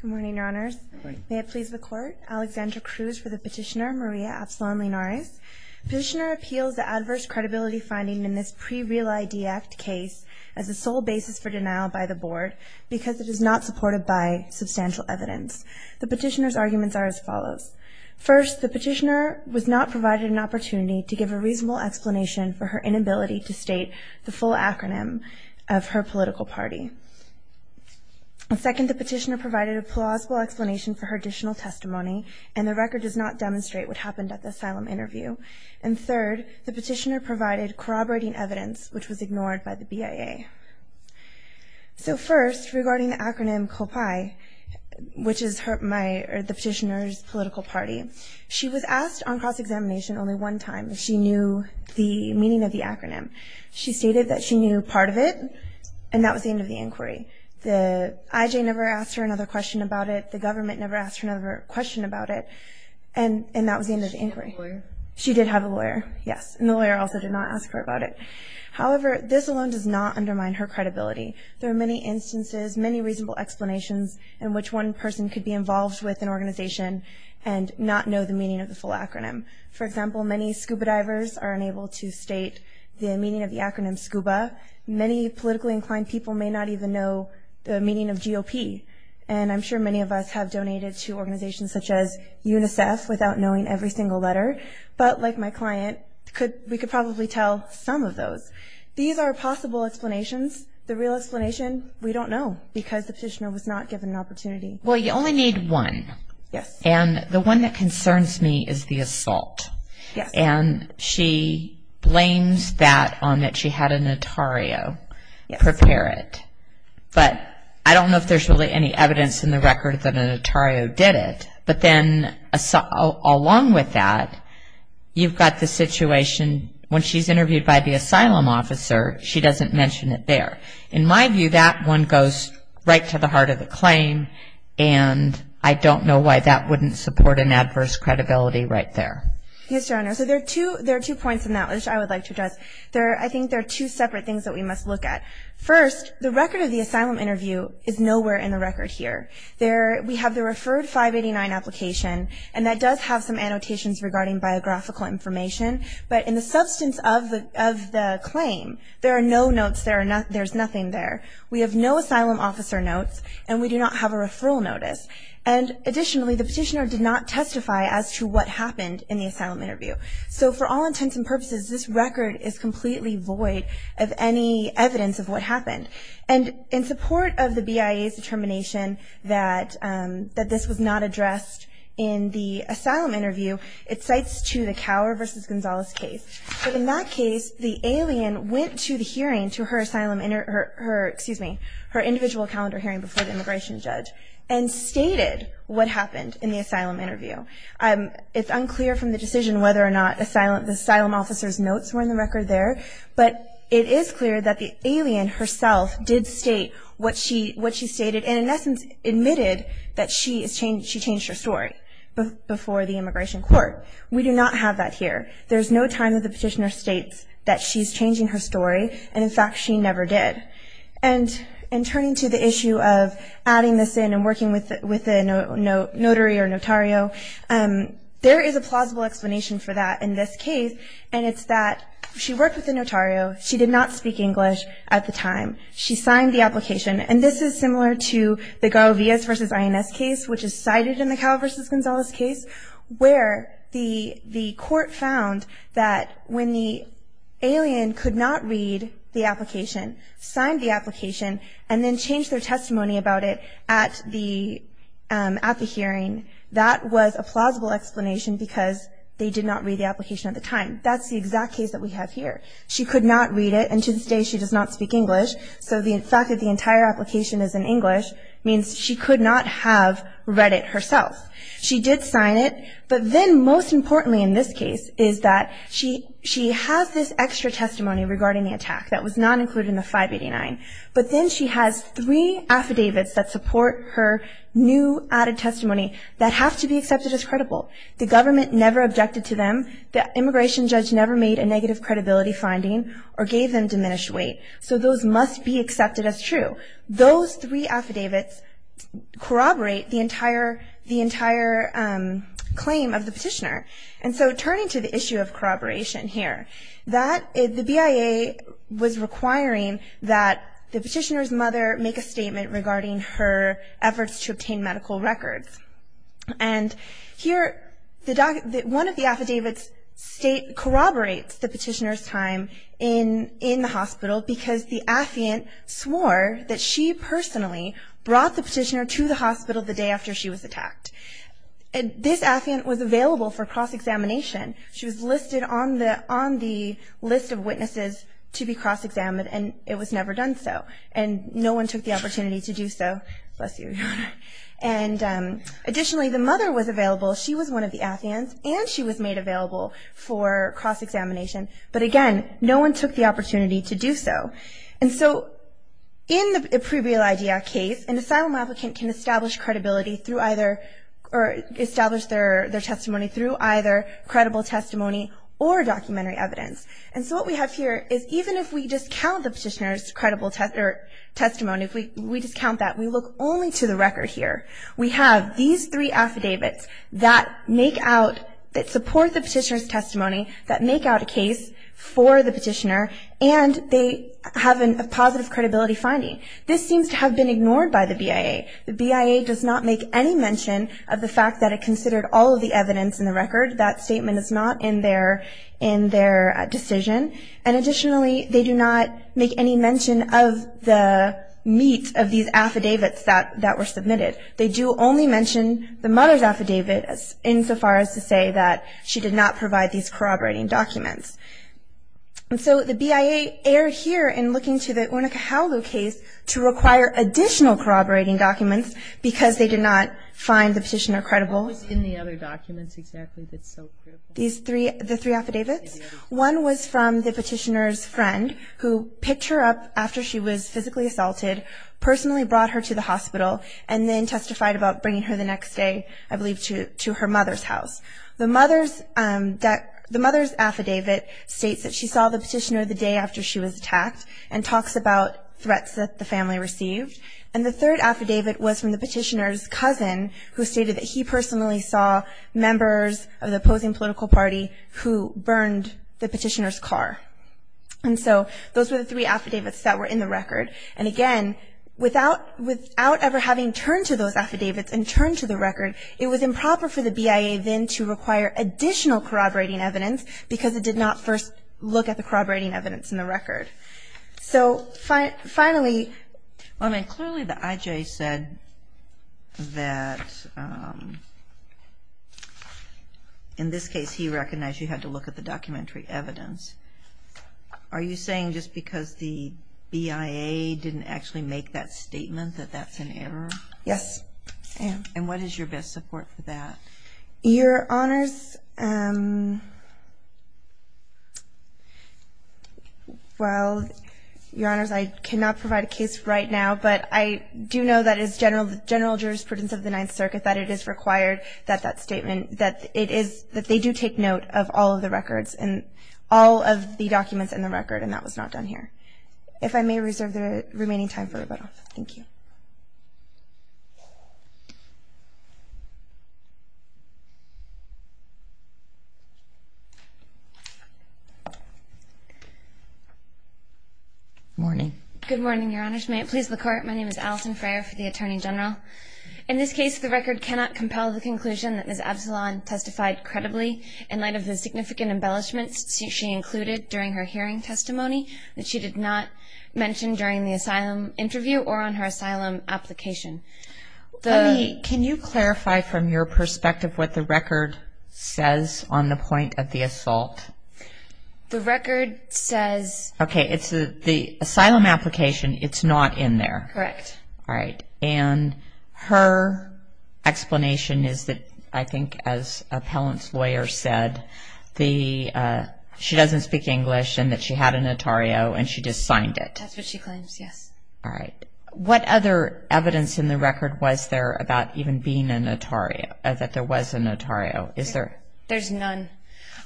Good morning, Your Honors. Good morning. May it please the Court, Alexandra Cruz for the petitioner Maria Absalon Linares. Petitioner appeals the adverse credibility finding in this pre-Real ID Act case as the sole basis for denial by the Board because it is not supported by substantial evidence. The petitioner's arguments are as follows. First, the petitioner was not provided an opportunity to give a reasonable explanation for her inability to state the full acronym of her political party. Second, the petitioner provided a plausible explanation for her additional testimony and the record does not demonstrate what happened at the asylum interview. And third, the petitioner provided corroborating evidence, which was ignored by the BIA. So first, regarding the acronym COPAI, which is the petitioner's political party, she was asked on cross-examination only one time if she knew the meaning of the acronym. She stated that she knew part of it, and that was the end of the inquiry. The IJ never asked her another question about it. The government never asked her another question about it, and that was the end of the inquiry. Did she have a lawyer? She did have a lawyer, yes, and the lawyer also did not ask her about it. However, this alone does not undermine her credibility. There are many instances, many reasonable explanations in which one person could be involved with an organization and not know the meaning of the full acronym. For example, many scuba divers are unable to state the meaning of the acronym SCUBA. Many politically inclined people may not even know the meaning of GOP, and I'm sure many of us have donated to organizations such as UNICEF without knowing every single letter. But like my client, we could probably tell some of those. These are possible explanations. The real explanation, we don't know because the petitioner was not given an opportunity. Well, you only need one. Yes. And the one that concerns me is the assault. Yes. And she blames that on that she had a notario prepare it. But I don't know if there's really any evidence in the record that a notario did it. But then along with that, you've got the situation when she's interviewed by the asylum officer, she doesn't mention it there. In my view, that one goes right to the heart of the claim, and I don't know why that wouldn't support an adverse credibility right there. Yes, Your Honor. So there are two points in that which I would like to address. I think there are two separate things that we must look at. First, the record of the asylum interview is nowhere in the record here. We have the referred 589 application, and that does have some annotations regarding biographical information. But in the substance of the claim, there are no notes, there's nothing there. We have no asylum officer notes, and we do not have a referral notice. And additionally, the petitioner did not testify as to what happened in the asylum interview. So for all intents and purposes, this record is completely void of any evidence of what happened. And in support of the BIA's determination that this was not addressed in the asylum interview, it cites to the Cower v. Gonzalez case. But in that case, the alien went to the hearing, to her asylum, excuse me, her individual calendar hearing before the immigration judge, and stated what happened in the asylum interview. It's unclear from the decision whether or not the asylum officer's notes were in the record there, but it is clear that the alien herself did state what she stated, and in essence admitted that she changed her story before the immigration court. We do not have that here. There's no time that the petitioner states that she's changing her story, and in fact she never did. And turning to the issue of adding this in and working with a notary or notario, there is a plausible explanation for that in this case, and it's that she worked with a notario. She did not speak English at the time. She signed the application, and this is similar to the Garo Villas v. INS case, which is cited in the Cower v. Gonzalez case, where the court found that when the alien could not read the application, sign the application, and then change their testimony about it at the hearing, that was a plausible explanation because they did not read the application at the time. That's the exact case that we have here. She could not read it, and to this day she does not speak English, so the fact that the entire application is in English means she could not have read it herself. She did sign it, but then most importantly in this case is that she has this extra testimony regarding the attack that was not included in the 589, but then she has three affidavits that support her new added testimony that have to be accepted as credible. The government never objected to them. The immigration judge never made a negative credibility finding or gave them diminished weight, so those must be accepted as true. Those three affidavits corroborate the entire claim of the petitioner, and so turning to the issue of corroboration here, the BIA was requiring that the petitioner's mother make a statement regarding her efforts to obtain medical records, and here one of the affidavits corroborates the petitioner's time in the hospital because the affiant swore that she personally brought the petitioner to the hospital the day after she was attacked, and this affiant was available for cross-examination. She was listed on the list of witnesses to be cross-examined, and it was never done so, and no one took the opportunity to do so. And additionally, the mother was available. She was one of the affiants, and she was made available for cross-examination, but again, no one took the opportunity to do so, and so in the previal idea case, an asylum applicant can establish credibility through either or establish their testimony through either credible testimony or documentary evidence, and so what we have here is even if we discount the petitioner's credible testimony, if we discount that, we look only to the record here. We have these three affidavits that make out, that support the petitioner's testimony, that make out a case for the petitioner, and they have a positive credibility finding. This seems to have been ignored by the BIA. The BIA does not make any mention of the fact that it considered all of the evidence in the record. That statement is not in their decision, and additionally, they do not make any mention of the meat of these affidavits that were submitted. They do only mention the mother's affidavit insofar as to say that she did not provide these corroborating documents, and so the BIA erred here in looking to the Onukahaulu case to require additional corroborating documents because they did not find the petitioner credible. What was in the other documents exactly that's so critical? These three, the three affidavits? One was from the petitioner's friend who picked her up after she was physically assaulted, personally brought her to the hospital, and then testified about bringing her the next day, I believe, to her mother's house. The mother's affidavit states that she saw the petitioner the day after she was attacked and talks about threats that the family received, and the third affidavit was from the petitioner's cousin who stated that he personally saw members of the opposing political party who burned the petitioner's car. And so those were the three affidavits that were in the record. And again, without ever having turned to those affidavits and turned to the record, it was improper for the BIA then to require additional corroborating evidence because it did not first look at the corroborating evidence in the record. So finally... Clearly the IJ said that in this case he recognized you had to look at the documentary evidence. Are you saying just because the BIA didn't actually make that statement that that's an error? Yes, I am. And what is your best support for that? Your Honors... Well, Your Honors, I cannot provide a case right now, but I do know that it is general jurisprudence of the Ninth Circuit that it is required that that statement, that they do take note of all of the records and all of the documents in the record, and that was not done here. If I may reserve the remaining time for rebuttal. Thank you. Good morning. Good morning, Your Honors. May it please the Court. My name is Allison Frayer for the Attorney General. In this case, the record cannot compel the conclusion that Ms. Absalon testified credibly in light of the significant embellishments she included during her hearing testimony that she did not mention during the asylum interview or on her asylum application. Let me... Can you clarify from your perspective, Ms. Frayer, what the record says on the point of the assault? The record says... Okay, it's the asylum application, it's not in there. Correct. All right. And her explanation is that, I think, as appellant's lawyer said, she doesn't speak English and that she had a notario and she just signed it. That's what she claims, yes. All right. What other evidence in the record was there about even being a notario, that there was a notario? Is there... There's none.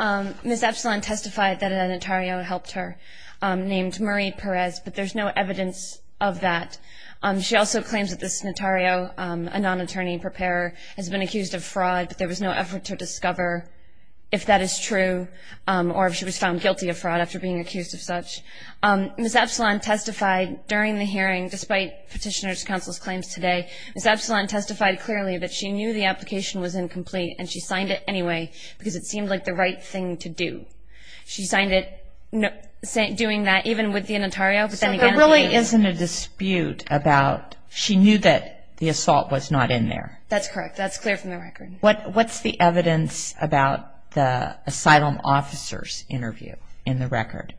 Ms. Absalon testified that a notario helped her named Marie Perez, but there's no evidence of that. She also claims that this notario, a non-attorney preparer, has been accused of fraud, but there was no effort to discover if that is true Ms. Absalon testified during the hearing, despite Petitioner's Counsel's claims today, Ms. Absalon testified clearly that she knew the application was incomplete and she signed it anyway because it seemed like the right thing to do. She signed it doing that even with the notario, but then again... So there really isn't a dispute about... She knew that the assault was not in there. That's correct. That's clear from the record. What's the evidence about the asylum officer's interview in the record?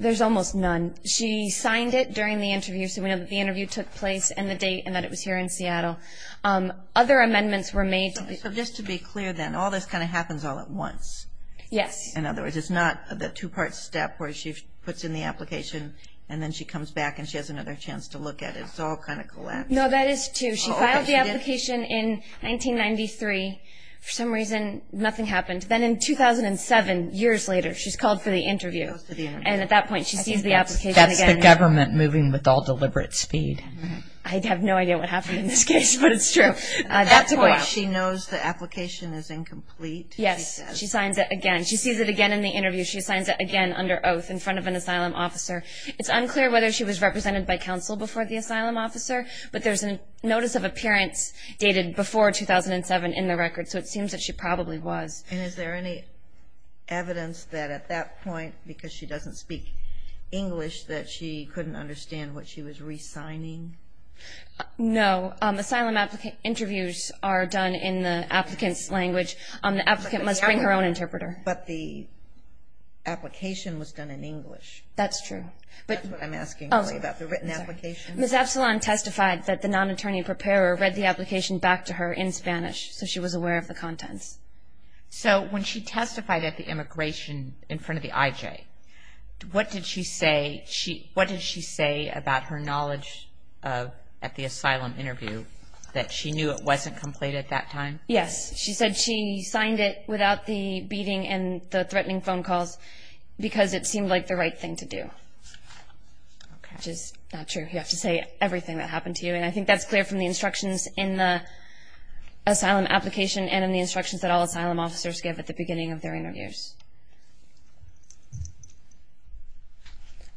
There's almost none. She signed it during the interview, so we know that the interview took place and the date and that it was here in Seattle. Other amendments were made... So just to be clear then, all this kind of happens all at once. Yes. In other words, it's not the two-part step where she puts in the application and then she comes back and she has another chance to look at it. It's all kind of collapsed. No, that is true. She filed the application in 1993. For some reason, nothing happened. Then in 2007, years later, she's called for the interview, and at that point she sees the application again. That's the government moving with all deliberate speed. I have no idea what happened in this case, but it's true. At that point she knows the application is incomplete, she says. Yes, she signs it again. She sees it again in the interview. She signs it again under oath in front of an asylum officer. It's unclear whether she was represented by counsel before the asylum officer, but there's a notice of appearance dated before 2007 in the record, so it seems that she probably was. And is there any evidence that at that point, because she doesn't speak English, that she couldn't understand what she was re-signing? No. Asylum interviews are done in the applicant's language. The applicant must bring her own interpreter. But the application was done in English. That's true. That's what I'm asking about, the written application. Ms. Absalon testified that the non-attorney preparer read the application back to her in Spanish, so she was aware of the contents. So when she testified at the immigration in front of the IJ, what did she say about her knowledge at the asylum interview, that she knew it wasn't complete at that time? Yes. She said she signed it without the beating and the threatening phone calls because it seemed like the right thing to do, which is not true. You have to say everything that happened to you, and I think that's clear from the instructions in the asylum application and in the instructions that all asylum officers give at the beginning of their interviews.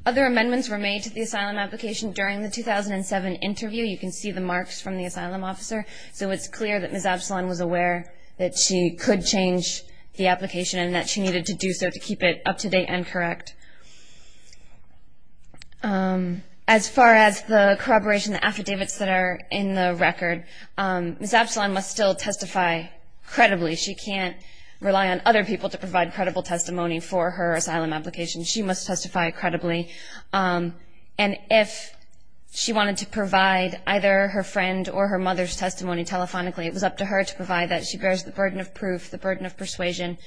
Other amendments were made to the asylum application during the 2007 interview. You can see the marks from the asylum officer, so it's clear that Ms. Absalon was aware that she could change the application and that she needed to do so to keep it up-to-date and correct. As far as the corroboration, the affidavits that are in the record, Ms. Absalon must still testify credibly. She can't rely on other people to provide credible testimony for her asylum application. She must testify credibly, and if she wanted to provide either her friend or her mother's testimony telephonically, it was up to her to provide that. She bears the burden of proof, the burden of persuasion,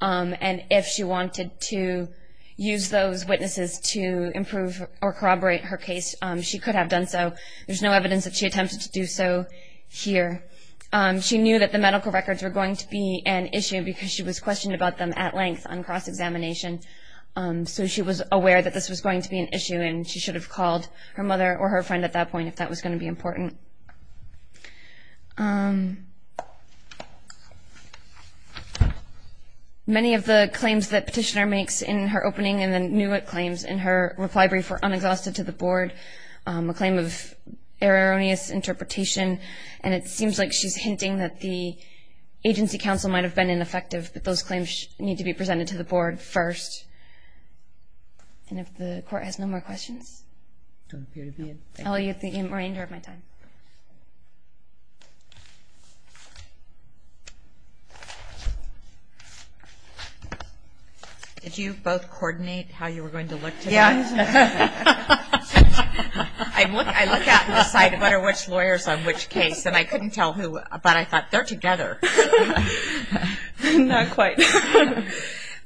and if she wanted to use those witnesses to improve or corroborate her case, she could have done so. There's no evidence that she attempted to do so here. She knew that the medical records were going to be an issue because she was questioned about them at length on cross-examination, so she was aware that this was going to be an issue and she should have called her mother or her friend at that point if that was going to be important. Many of the claims that Petitioner makes in her opening and the new claims in her reply brief were unexhausted to the Board, a claim of erroneous interpretation, and it seems like she's hinting that the agency counsel might have been ineffective, but those claims need to be presented to the Board first. And if the Court has no more questions? I'll let you have the remainder of my time. Did you both coordinate how you were going to look today? Yeah. I look out and decide what are which lawyers on which case, and I couldn't tell who, but I thought, they're together. Not quite.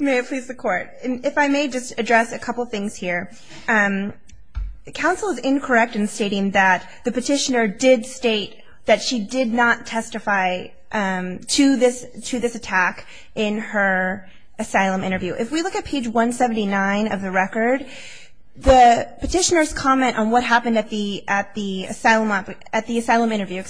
May it please the Court. If I may just address a couple things here. Counsel is incorrect in stating that the Petitioner did state that she did not testify to this attack in her asylum interview. If we look at page 179 of the record, the Petitioner's comment on what happened at the asylum interview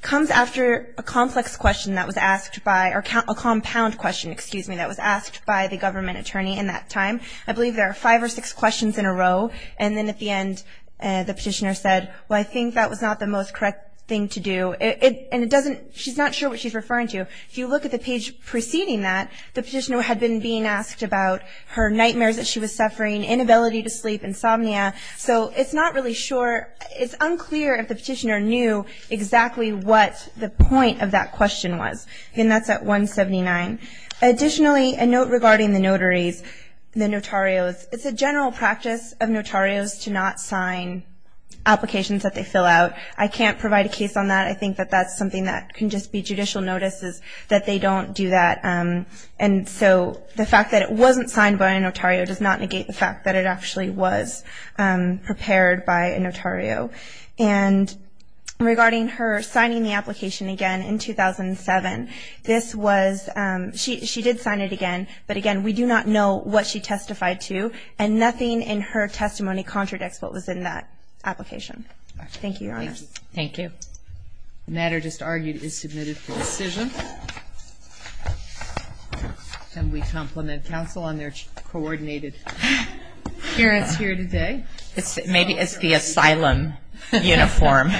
comes after a complex question that was asked by, or a compound question, excuse me, that was asked by the government attorney in that time. I believe there are five or six questions in a row, and then at the end the Petitioner said, well, I think that was not the most correct thing to do. And she's not sure what she's referring to. If you look at the page preceding that, the Petitioner had been being asked about her nightmares that she was suffering, inability to sleep, insomnia. So it's not really sure. It's unclear if the Petitioner knew exactly what the point of that question was. And that's at 179. Additionally, a note regarding the notaries, the notarios. It's a general practice of notarios to not sign applications that they fill out. I can't provide a case on that. I think that that's something that can just be judicial notices that they don't do that. And so the fact that it wasn't signed by a notario does not negate the fact that it actually was prepared by a notario. And regarding her signing the application again in 2007, this was ‑‑ she did sign it again, but, again, we do not know what she testified to, and nothing in her testimony contradicts what was in that application. Thank you, Your Honor. Thank you. The matter just argued is submitted for decision. And we compliment counsel on their coordinated appearance here today. Maybe it's the asylum uniform.